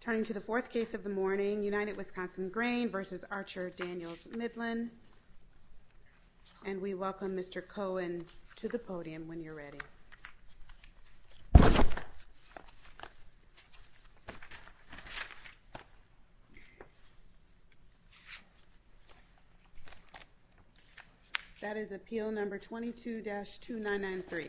Turning to the fourth case of the morning, United Wisconsin Grain v. Archer Daniels Midland. And we welcome Mr. Cohen to the podium when you're ready. That is appeal number 22-2993.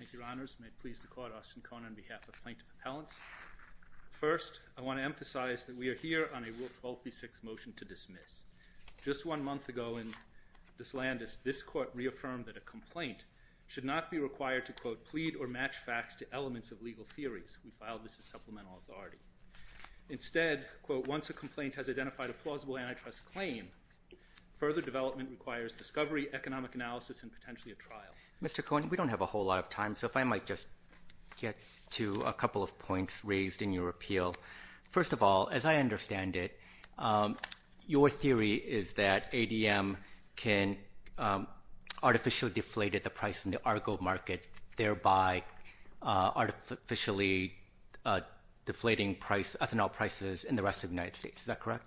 Thank you, Your Honors. May it please the Court, I'm Austin Cohen on behalf of Plankton Propellants. First, I want to emphasize that we are here on a Rule 1236 motion to dismiss. Just one month ago in this land, this Court reaffirmed that a complaint should not be required to, quote, plead or match facts to elements of legal theories. We filed this as supplemental authority. Instead, quote, once a complaint has identified a plausible antitrust claim, further development requires discovery, economic analysis, and potentially a trial. Mr. Cohen, we don't have a whole lot of time, so if I might just get to a couple of points raised in your appeal. First of all, as I understand it, your theory is that ADM can artificially deflate the price in the Argo market, thereby artificially deflating price, ethanol prices in the rest of the United States. Is that correct?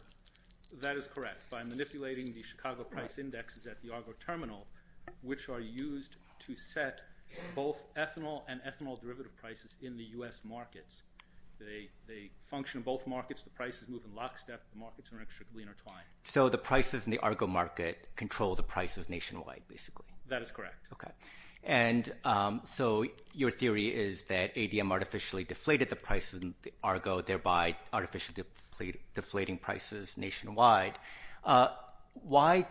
That is correct. By manipulating the Chicago price indexes at the Argo terminal, which are used to set both ethanol and ethanol derivative prices in the U.S. markets, they function in both markets. The prices move in lockstep. The markets are inextricably intertwined. So the prices in the Argo market control the prices nationwide, basically? That is correct. Okay. And so your theory is that ADM artificially deflated the prices in the Argo, thereby artificially deflating prices nationwide. Why did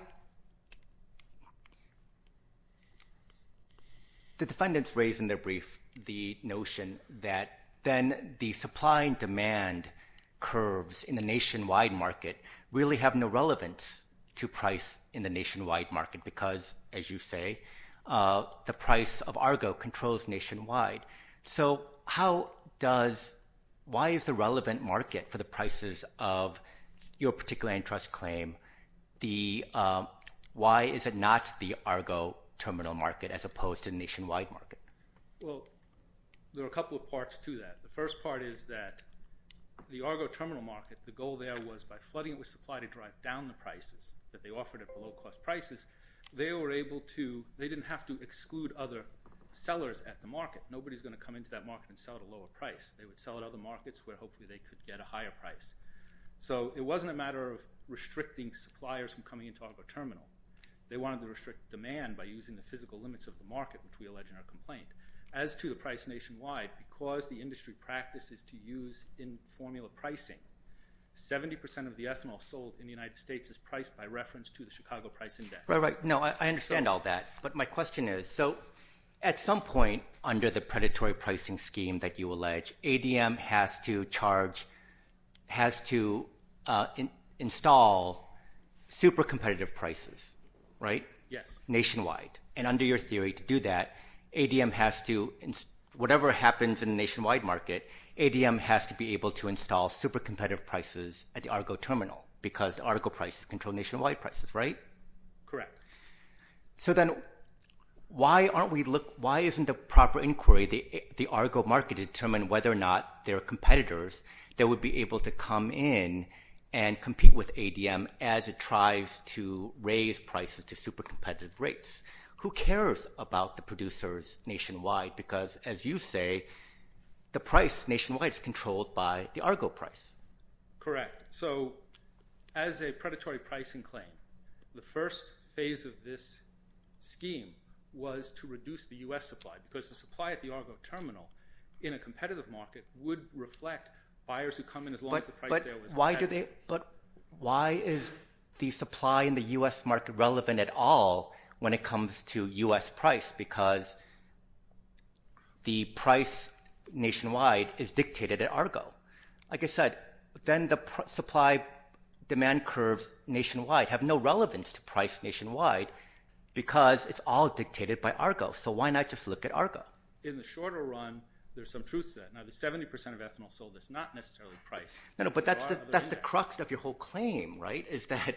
the defendants raise in their brief the notion that then the supply and demand curves in the nationwide market really have no relevance to price in the nationwide market? Because as you say, the price of Argo controls nationwide. So why is the relevant market for the prices of your particular antitrust claim, why is it not the Argo terminal market as opposed to the nationwide market? Well, there are a couple of parts to that. The first part is that the Argo terminal market, the goal there was by flooding it with supply to drive down the prices that they offered at the low-cost prices, they didn't have to exclude other sellers at the market. Well, nobody's going to come into that market and sell at a lower price. They would sell at other markets where hopefully they could get a higher price. So it wasn't a matter of restricting suppliers from coming into Argo terminal. They wanted to restrict demand by using the physical limits of the market, which we allege in our complaint. As to the price nationwide, because the industry practices to use in formula pricing, 70% of the ethanol sold in the United States is priced by reference to the Chicago price index. Right, right. No, I understand all that. But my question is, so at some point under the predatory pricing scheme that you allege, ADM has to charge, has to install super competitive prices, right? Yes. Nationwide. And under your theory to do that, ADM has to, whatever happens in the nationwide market, ADM has to be able to install super competitive prices at the Argo terminal because Argo prices control nationwide prices, right? Correct. So then why aren't we, why isn't the proper inquiry, the Argo market, to determine whether or not there are competitors that would be able to come in and compete with ADM as it tries to raise prices to super competitive rates? Who cares about the producers nationwide? Because as you say, the price nationwide is controlled by the Argo price. Correct. So as a predatory pricing claim, the first phase of this scheme was to reduce the U.S. supply because the supply at the Argo terminal in a competitive market would reflect buyers who come in as long as the price there was- But why is the supply in the U.S. market relevant at all when it comes to U.S. price? Like I said, then the supply demand curve nationwide have no relevance to price nationwide because it's all dictated by Argo. So why not just look at Argo? In the shorter run, there's some truth to that. Now, the 70% of ethanol sold is not necessarily price. But that's the crux of your whole claim, right? Is that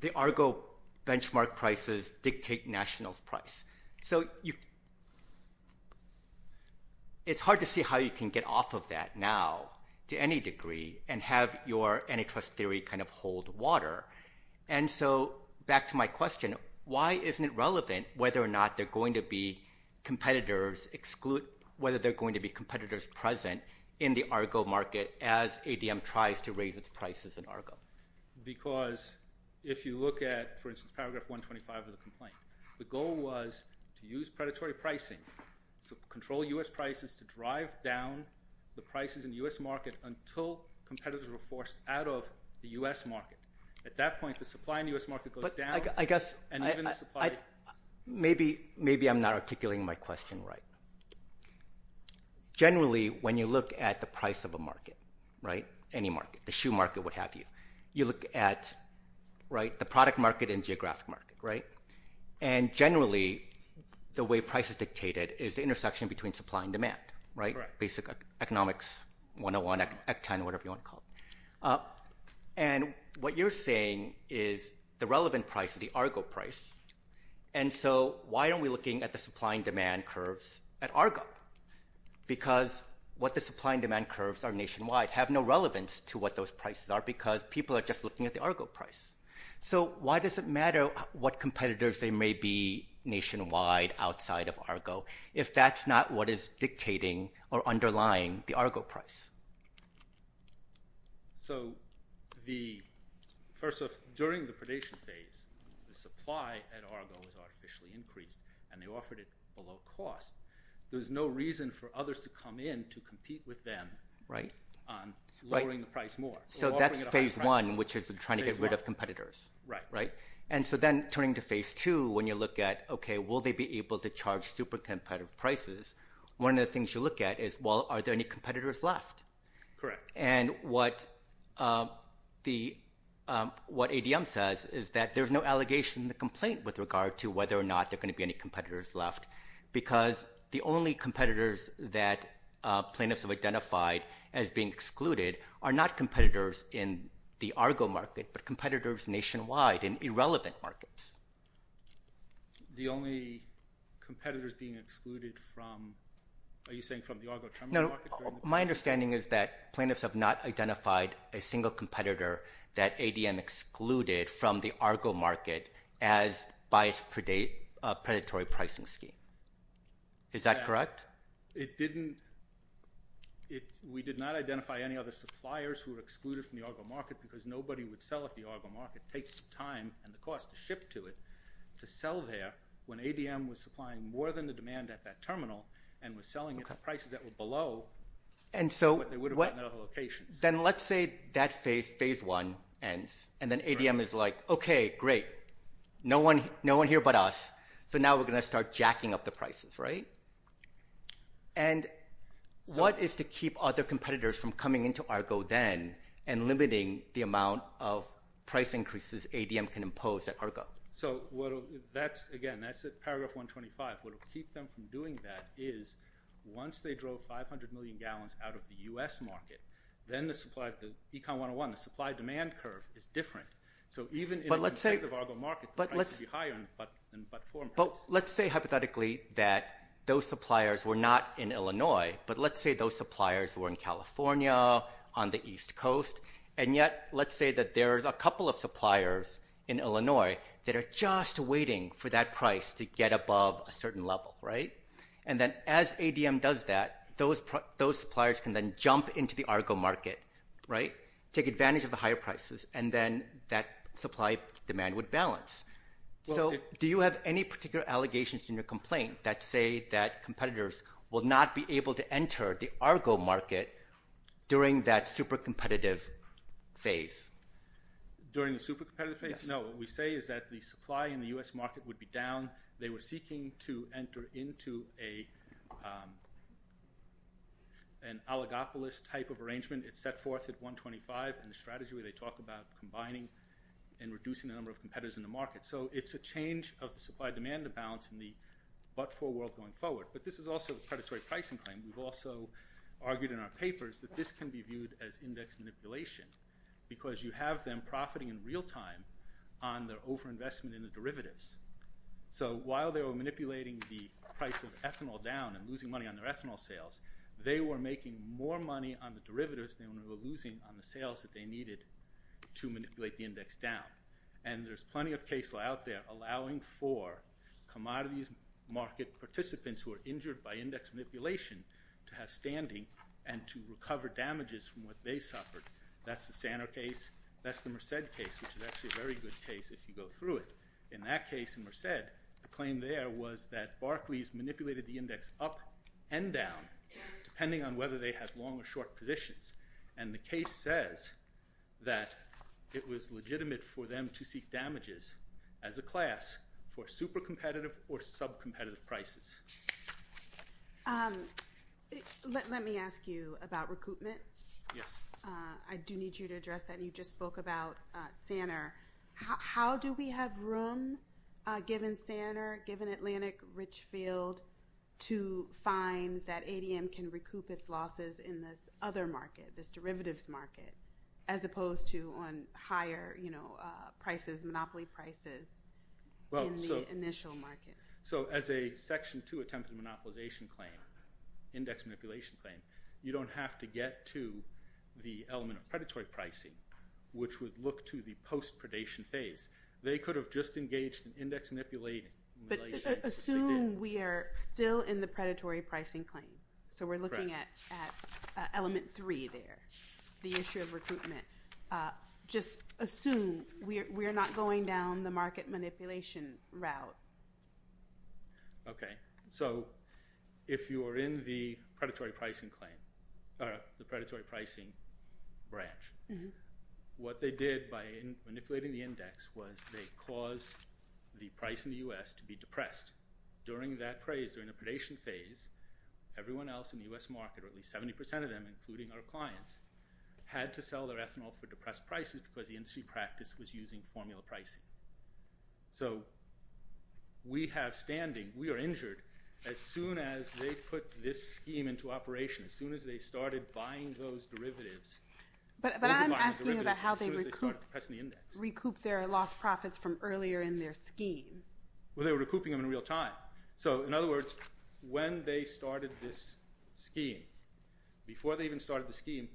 the Argo benchmark prices dictate national price. So it's hard to see how you can get off of that now to any degree and have your antitrust theory kind of hold water. And so back to my question, why isn't it relevant whether or not there are going to be competitors present in the Argo market as ADM tries to raise its prices in Argo? Because if you look at, for instance, paragraph 125 of the complaint, the goal was to use predatory pricing, so control U.S. prices to drive down the prices in the U.S. market until competitors were forced out of the U.S. market. At that point, the supply in the U.S. market goes down and even the supply- Maybe I'm not articulating my question right. Generally, when you look at the price of a market, right, any market, the shoe market, what have you, you look at the product market and geographic market, right? And generally, the way price is dictated is the intersection between supply and demand, right? Basic economics 101, Act 10, whatever you want to call it. And what you're saying is the relevant price, the Argo price. And so why aren't we looking at the supply and demand curves at Argo? Because what the supply and demand curves are nationwide have no relevance to what those prices are because people are just looking at the Argo price. So why does it matter what competitors there may be nationwide outside of Argo if that's not what is dictating or underlying the Argo price? So the, first off, during the predation phase, the supply at Argo was artificially increased and they offered it below cost. There was no reason for others to come in to compete with them on lowering the price more. So that's phase one, which is trying to get rid of competitors, right? And so then turning to phase two, when you look at, okay, will they be able to charge super competitive prices, one of the things you look at is, well, are there any competitors left? Correct. And what ADM says is that there's no allegation in the complaint with regard to whether or not there are going to be any competitors left because the only competitors that plaintiffs have identified as being excluded are not competitors in the Argo market, but competitors nationwide in irrelevant markets. The only competitors being excluded from, are you saying from the Argo term? My understanding is that plaintiffs have not identified a single competitor that ADM excluded from the Argo market as biased predatory pricing scheme. Is that correct? We did not identify any other suppliers who were excluded from the Argo market because nobody would sell at the Argo market. It takes time and the cost to ship to it to sell there when ADM was supplying more than the demand at that terminal and was selling at prices that were below what they would have gotten at other locations. Then let's say that phase one ends and then ADM is like, okay, great. No one here but us, so now we're going to start jacking up the prices, right? And what is to keep other competitors from coming into Argo then and limiting the amount of price increases ADM can impose at Argo? So that's, again, that's at paragraph 125, what will keep them from doing that is once they drove 500 million gallons out of the U.S. market, then the supply of the Econ 101, the supply-demand curve is different. So even in the state of Argo market, the price would be higher in the platform. Let's say hypothetically that those suppliers were not in Illinois, but let's say those suppliers were in California, on the East Coast, and yet let's say that there's a couple of suppliers in Illinois that are just waiting for that price to get above a certain level, right? And then as ADM does that, those suppliers can then jump into the Argo market, right, take advantage of the higher prices, and then that supply-demand would balance. So do you have any particular allegations in your complaint that say that competitors will not be able to enter the Argo market during that super-competitive phase? During the super-competitive phase? Yes. No, what we say is that the supply in the U.S. market would be down, they were seeking to enter into an oligopolist type of arrangement. It's set forth at 125 and the strategy where they talk about combining and reducing the number of competitors in the market. So it's a change of the supply-demand imbalance in the but-for world going forward, but this is also a predatory pricing claim. We've also argued in our papers that this can be viewed as index manipulation because you have them profiting in real time on their over-investment in the derivatives. So while they were manipulating the price of ethanol down and losing money on their ethanol sales, they were making more money on the derivatives than they were losing on the sales that they needed to manipulate the index down. And there's plenty of cases out there allowing for commodities market participants who are injured by index manipulation to have standing and to recover damages from what they suffered. That's the Sanner case. That's the Merced case, which is actually a very good case if you go through it. In that case in Merced, the claim there was that Barclays manipulated the index up and down depending on whether they had long or short positions. And the case says that it was legitimate for them to seek damages as a class for super competitive or sub-competitive prices. Let me ask you about recoupment. Yes. I do need you to address that. You just spoke about Sanner. How do we have room, given Sanner, given Atlantic Richfield, to find that ADM can recoup its losses in this other market, this derivatives market, as opposed to on higher prices, monopoly prices in the initial market? So as a Section 2 attempt at a monopolization claim, index manipulation claim, you don't have to get to the element of predatory pricing, which would look to the post-predation phase. They could have just engaged in index manipulation. But assume we are still in the predatory pricing claim. So we're looking at element 3 there, the issue of recoupment. Just assume we're not going down the market manipulation route. Okay. So if you are in the predatory pricing claim, or the predatory pricing branch, what they did by manipulating the index was they caused the price in the U.S. to be depressed. During that phase, during the predation phase, everyone else in the U.S. market, or at least 70% of them, including our clients, had to sell their ethanol for depressed prices because the industry practice was using formula pricing. So we have standing. We are injured. As soon as they put this scheme into operation, as soon as they started buying those derivatives, those were buying derivatives as soon as they started pressing the index. But I'm asking about how they recouped their lost profits from earlier in their scheme. Well, they were recouping them in real time. So in other words, when they started this scheme, before they even started the scheme,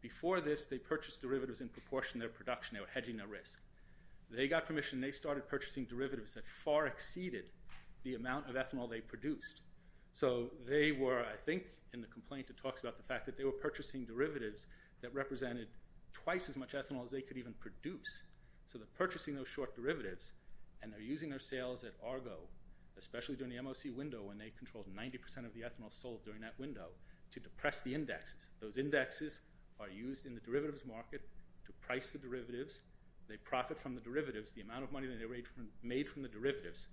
before this, they purchased derivatives in proportion to their production. They were hedging their risk. They got permission. They started purchasing derivatives that far exceeded the amount of ethanol they produced. So they were, I think, in the complaint, it talks about the fact that they were purchasing derivatives that represented twice as much ethanol as they could even produce. So they're purchasing those short derivatives, and they're using their sales at Argo, especially during the MOC window when they controlled 90% of the ethanol sold during that window, to depress the indexes. Those indexes are used in the derivatives market to price the derivatives. They profit from the derivatives. The amount of money that they made from the derivatives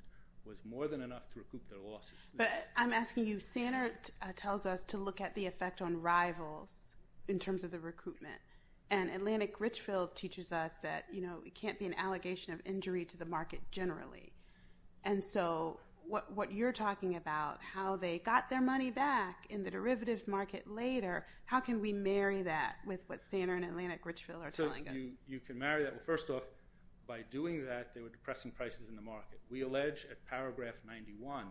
was more than enough to recoup their losses. But I'm asking you, Sanert tells us to look at the effect on rivals in terms of the recoupment. And Atlantic Richfield teaches us that it can't be an allegation of injury to the market generally. And so what you're talking about, how they got their money back in the derivatives market later, how can we marry that with what Sanert and Atlantic Richfield are telling us? So you can marry that. Well, first off, by doing that, they were depressing prices in the market. We allege at paragraph 91,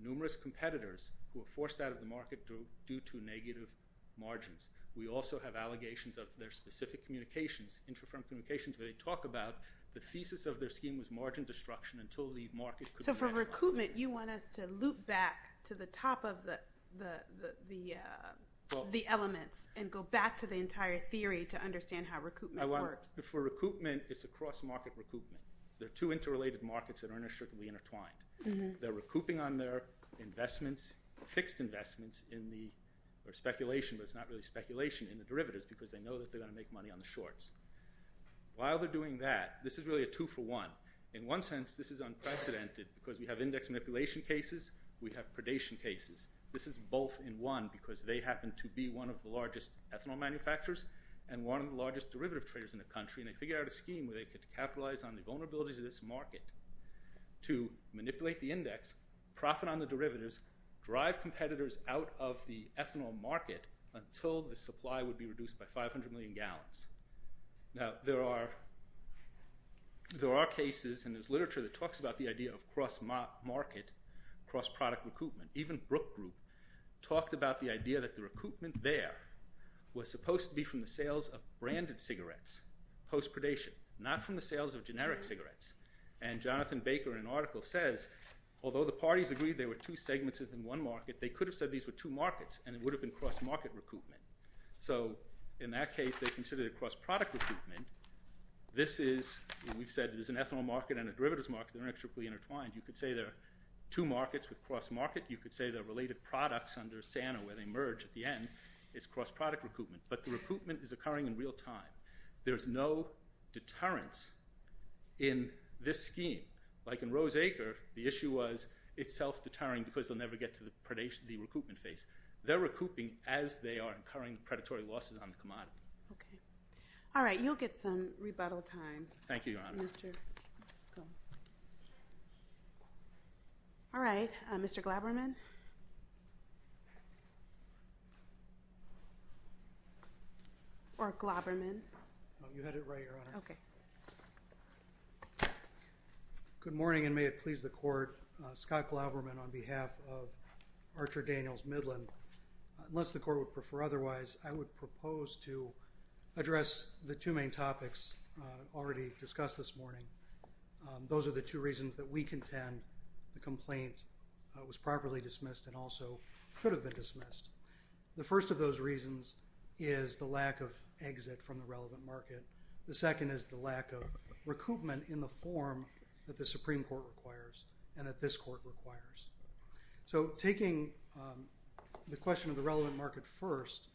numerous competitors who were forced out of the market due to negative margins. We also have allegations of their specific communications, intrafirm communications, where they talk about the thesis of their scheme was margin destruction until the market could recoup. So for recoupment, you want us to loop back to the top of the elements and go back to the entire theory to understand how recoupment works. For recoupment, it's a cross-market recoupment. There are two interrelated markets that are certainly intertwined. They're recouping on their investments, fixed investments in the speculation, but it's not really speculation, in the derivatives because they know that they're going to make money on the shorts. While they're doing that, this is really a two for one. In one sense, this is unprecedented because we have index manipulation cases, we have predation cases. This is both in one because they happen to be one of the largest ethanol manufacturers and one of the largest derivative traders in the country, and they figured out a scheme where they could capitalize on the vulnerabilities of this market to manipulate the index, profit on the derivatives, drive competitors out of the ethanol market until the supply would be reduced by 500 million gallons. Now, there are cases in this literature that talks about the idea of cross-market, cross-product recoupment. Even Brook Group talked about the idea that the recoupment there was supposed to be from the sales of branded cigarettes post-predation, not from the sales of generic cigarettes. And Jonathan Baker in an article says, although the parties agreed there were two segments within one market, they could have said these were two markets and it would have been cross-market recoupment. So, in that case, they considered it cross-product recoupment. This is, we've said it is an ethanol market and a derivatives market, they're intricately intertwined. You could say they're two markets with cross-market, you could say they're related products under SANA where they merge at the end, it's cross-product recoupment. But the recoupment is occurring in real time. There's no deterrence in this scheme. Like in Roseacre, the issue was it's self-deterring because they'll never get to the recoupment phase. They're recouping as they are incurring predatory losses on the commodity. All right, you'll get some rebuttal time. Thank you, Your Honor. All right, Mr. Glaberman? Or Glaberman? You had it right, Your Honor. Okay. Good morning and may it please the Court. Scott Glaberman on behalf of Archer Daniels Midland. Unless the Court would prefer otherwise, I would propose to address the two main topics already discussed this morning. Those are the two reasons that we contend the complaint was properly dismissed and also should have been dismissed. The first of those reasons is the lack of exit from the relevant market. The second is the lack of recoupment in the form that the Supreme Court requires and that this Court requires. So, taking the question of the relevant market first,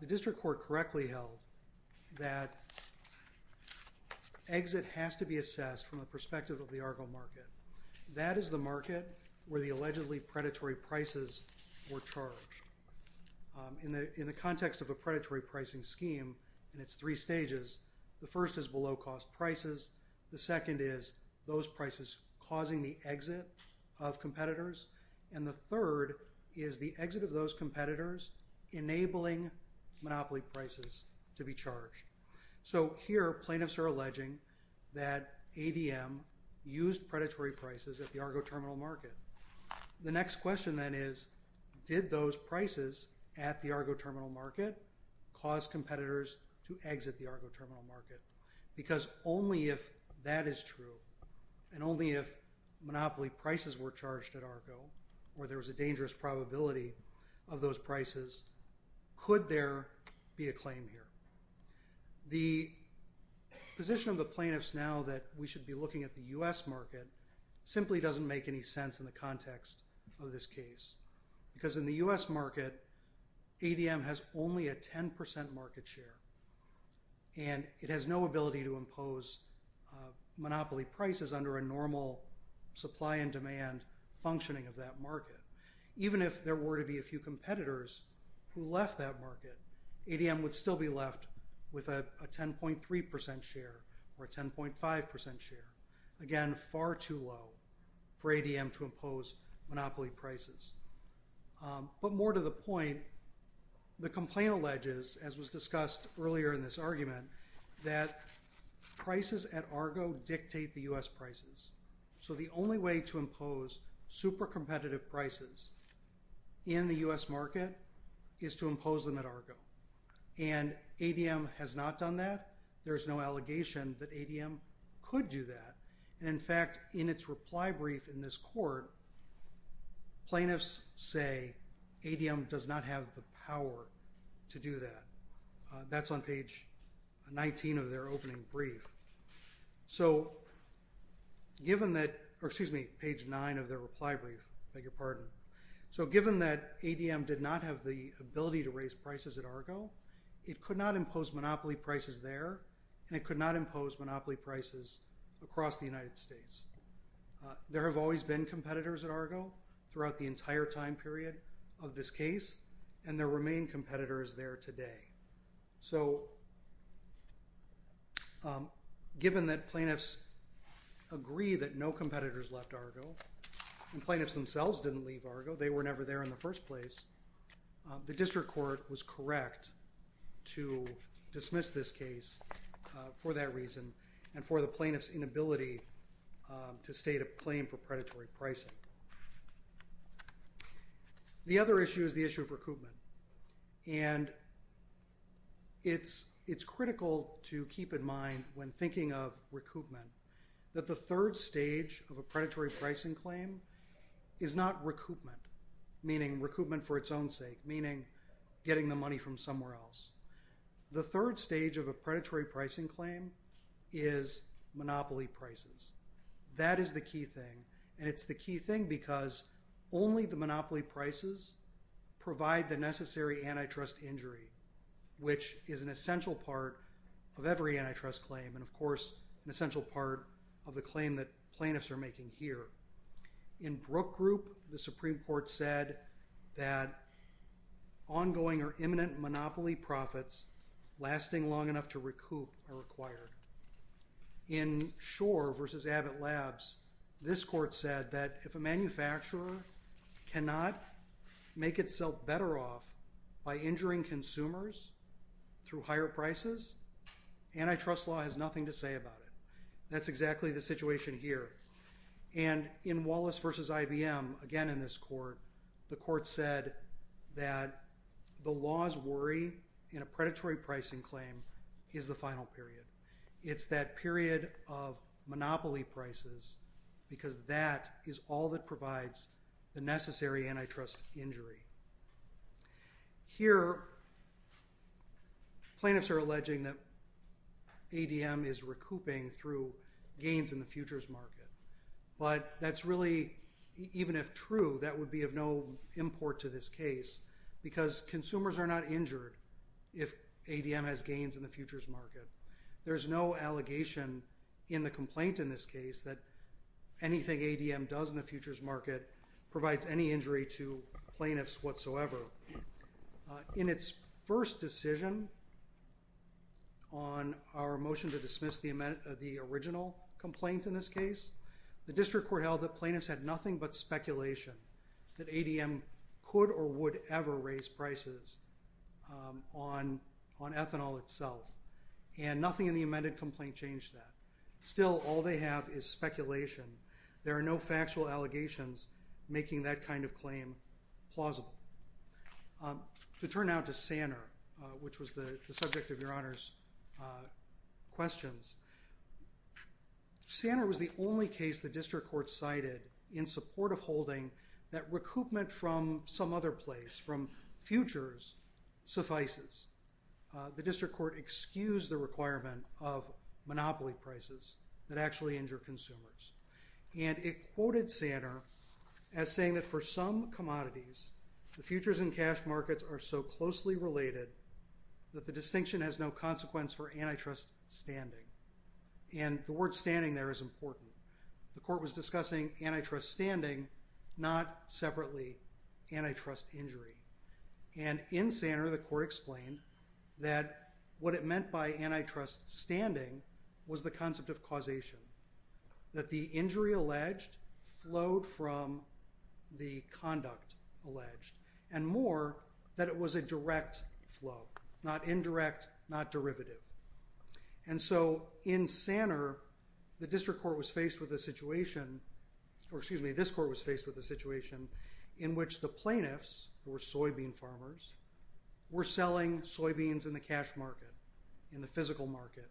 the District Court correctly held that exit has to be assessed from the perspective of the Argo market. That is the market where the allegedly predatory prices were charged. In the context of a predatory pricing scheme, it's three stages. The first is below cost prices. The second is those prices causing the exit of competitors. And the third is the exit of those competitors enabling monopoly prices to be charged. So, here plaintiffs are alleging that ADM used predatory prices at the Argo terminal market. The next question then is, did those prices at the Argo terminal market cause competitors to exit the Argo terminal market? Because only if that is true and only if monopoly prices were charged at Argo, where there was a dangerous probability of those prices, could there be a claim here. The position of the plaintiffs now that we should be looking at the U.S. market simply doesn't make any sense in the context of this case. Because in the U.S. market, ADM has only a 10% market share. And it has no ability to impose monopoly prices under a normal supply and demand functioning of that market. Even if there were to be a few competitors who left that market, ADM would still be left with a 10.3% share or a 10.5% share. Again, far too low for ADM to impose monopoly prices. But more to the point, the complaint alleges, as was discussed earlier in this argument, that prices at Argo dictate the U.S. prices. So, the only way to impose super competitive prices in the U.S. market is to impose them at Argo. And ADM has not done that. There is no allegation that ADM could do that. And in fact, in its reply brief in this court, plaintiffs say ADM does not have the power to do that. That's on page 19 of their opening brief. So, given that, or excuse me, page 9 of their reply brief, I beg your pardon. So, given that ADM did not have the ability to raise prices at Argo, it could not impose monopoly prices there, and it could not impose monopoly prices across the United States. There have always been competitors at Argo throughout the entire time period of this case, and there remain competitors there today. So, given that plaintiffs agree that no competitors left Argo, and plaintiffs themselves didn't leave Argo, they were never there in the first place, the district court was correct to dismiss this case for that reason and for the plaintiff's inability to state a claim for predatory pricing. The other issue is the issue of recoupment. And it's critical to keep in mind when thinking of recoupment that the third stage of a predatory pricing claim is recoupment, meaning recoupment for its own sake, meaning getting the money from somewhere else. The third stage of a predatory pricing claim is monopoly prices. That is the key thing, and it's the key thing because only the monopoly prices provide the necessary antitrust injury, which is an essential part of every antitrust claim, and of course an essential part of the claim that plaintiffs are making here. In Brook Group, the Supreme Court said that ongoing or imminent monopoly profits lasting long enough to recoup are required. In Schor v. Abbott Labs, this court said that if a manufacturer cannot make itself better off by injuring consumers through higher prices, antitrust law has nothing to say about it. That's exactly the situation here. And in Wallace v. IBM, again in this court, the court said that the law's worry in a predatory pricing claim is the final period. It's that period of monopoly prices because that is all that provides the necessary antitrust injury. Here, plaintiffs are alleging that ADM is recouping through gains in the futures market, but that's really, even if true, that would be of no import to this case because consumers are not injured if ADM has gains in the futures market. There's no allegation in the complaint in this case that anything ADM does in the futures market provides any injury to plaintiffs whatsoever. In its first decision on our motion to dismiss the original complaint in this case, the district court held that plaintiffs had nothing but speculation that ADM could or would ever raise prices on ethanol itself. And nothing in the amended complaint changed that. Still, all they have is speculation. There are no factual allegations making that kind of claim plausible. To turn now to Sanner, which was the subject of Your Honor's questions, Sanner was the only case the district court cited in support of holding that recoupment from some other place, from futures, suffices. The district court excused the requirement of monopoly prices that actually injure consumers. And it quoted Sanner as saying that for some commodities, the futures and cash markets are so closely related that the distinction has no consequence for antitrust standing. And the word standing there is important. The court was discussing antitrust standing, not separately antitrust injury. And in Sanner, the court explained that what it meant by antitrust standing was the concept of causation, that the injury alleged flowed from the conduct alleged, and more that it was a direct flow, not indirect, not derivative. And so in Sanner, the district court was faced with a situation, or excuse me, this court was faced with a situation in which the plaintiffs, who were soybean farmers, were selling soybeans in the cash market, in the physical market.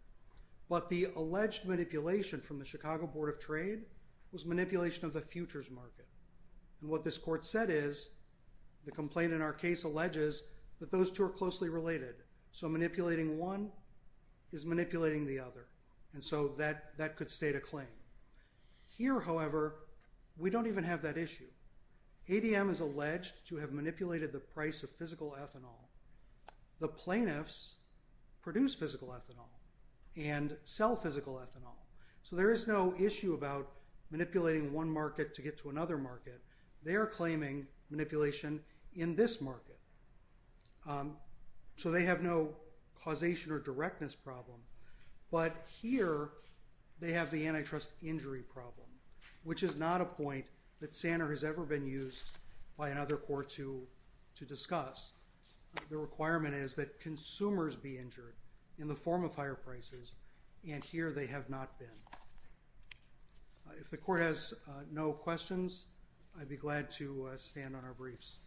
But the alleged manipulation from the Chicago Board of Trade was manipulation of the futures market. And what this court said is, the complaint in our case alleges that those two are closely related. So manipulating one is manipulating the other. And so that could state a claim. Here, however, we don't even have that issue. ADM is alleged to have manipulated the price of physical ethanol. The plaintiffs produce physical ethanol and sell physical ethanol. So there is no issue about manipulating one market to get to another market. They are claiming manipulation in this market. So they have no causation or directness problem. But here, they have the antitrust injury problem, which is not a point that Sanner has ever been used by another court to discuss. The requirement is that consumers be injured in the form of higher prices. And here, they have not been. If the court has no questions, I'd be glad to stand on our briefs.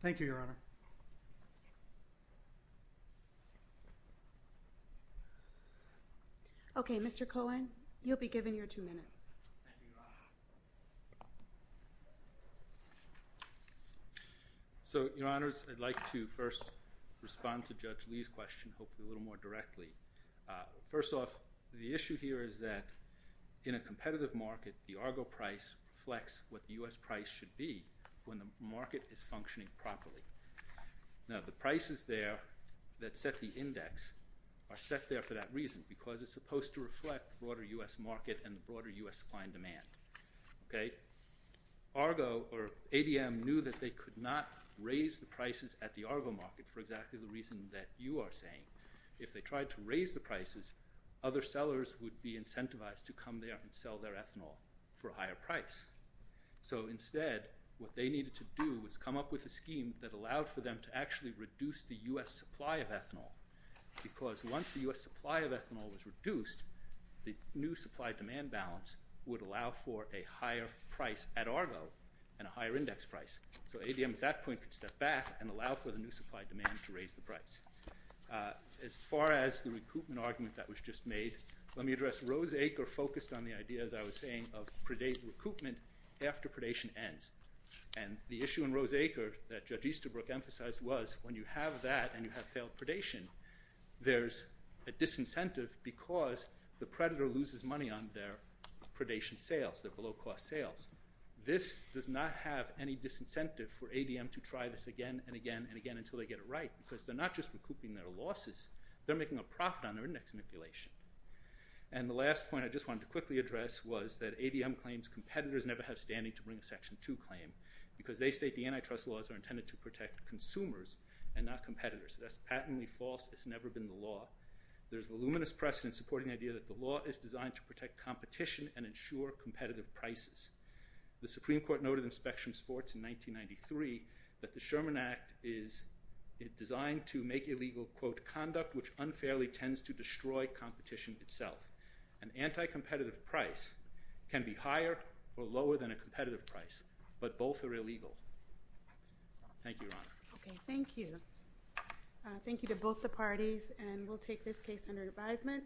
Thank you, Your Honor. Okay, Mr. Cohen, you'll be given your two minutes. Thank you, Your Honor. So, Your Honors, I'd like to first respond to Judge Lee's question, hopefully a little more directly. First off, the issue here is that in a competitive market, the ARGO price reflects what the U.S. price should be when the market is functioning properly. Now, the prices there that set the index are set there for that reason, because it's supposed to reflect broader U.S. market and broader U.S. client demand. Okay? ARGO or ADM knew that they could not raise the prices at the ARGO market for exactly the reason that you are saying. If they tried to raise the prices, other sellers would be incentivized to come there and sell their ethanol for a higher price. So instead, what they needed to do was come up with a scheme that allowed for them to actually reduce the U.S. supply of ethanol, because once the U.S. supply of ethanol was reduced, the new supply-demand balance would allow for a higher price at ARGO and a higher index price. So ADM at that point could step back and allow for the new supply-demand to raise the price. As far as the recoupment argument that was just made, let me address Rose Acre focused on the idea, as I was saying, of recoupment after predation ends. And the issue in Rose Acre that Judge Easterbrook emphasized was when you have that and you have failed predation, there's a disincentive because the predator loses money on their predation sales, their below-cost sales. This does not have any disincentive for ADM to try this again and again and again until they get it right, because they're not just recouping their losses. They're making a profit on their index manipulation. And the last point I just wanted to quickly address was that ADM claims competitors never have standing to bring a Section 2 claim because they state the antitrust laws are intended to protect consumers and not competitors. That's patently false. It's never been the law. There's a luminous precedent supporting the idea that the law is designed to protect competition and ensure competitive prices. The Supreme Court noted in Spectrum Sports in 1993 that the Sherman Act is designed to make illegal, quote, conduct which unfairly tends to destroy competition itself. An anti-competitive price can be higher or lower than a competitive price, but both are illegal. Thank you, Your Honor. Okay, thank you. Thank you to both the parties, and we'll take this case under advisement.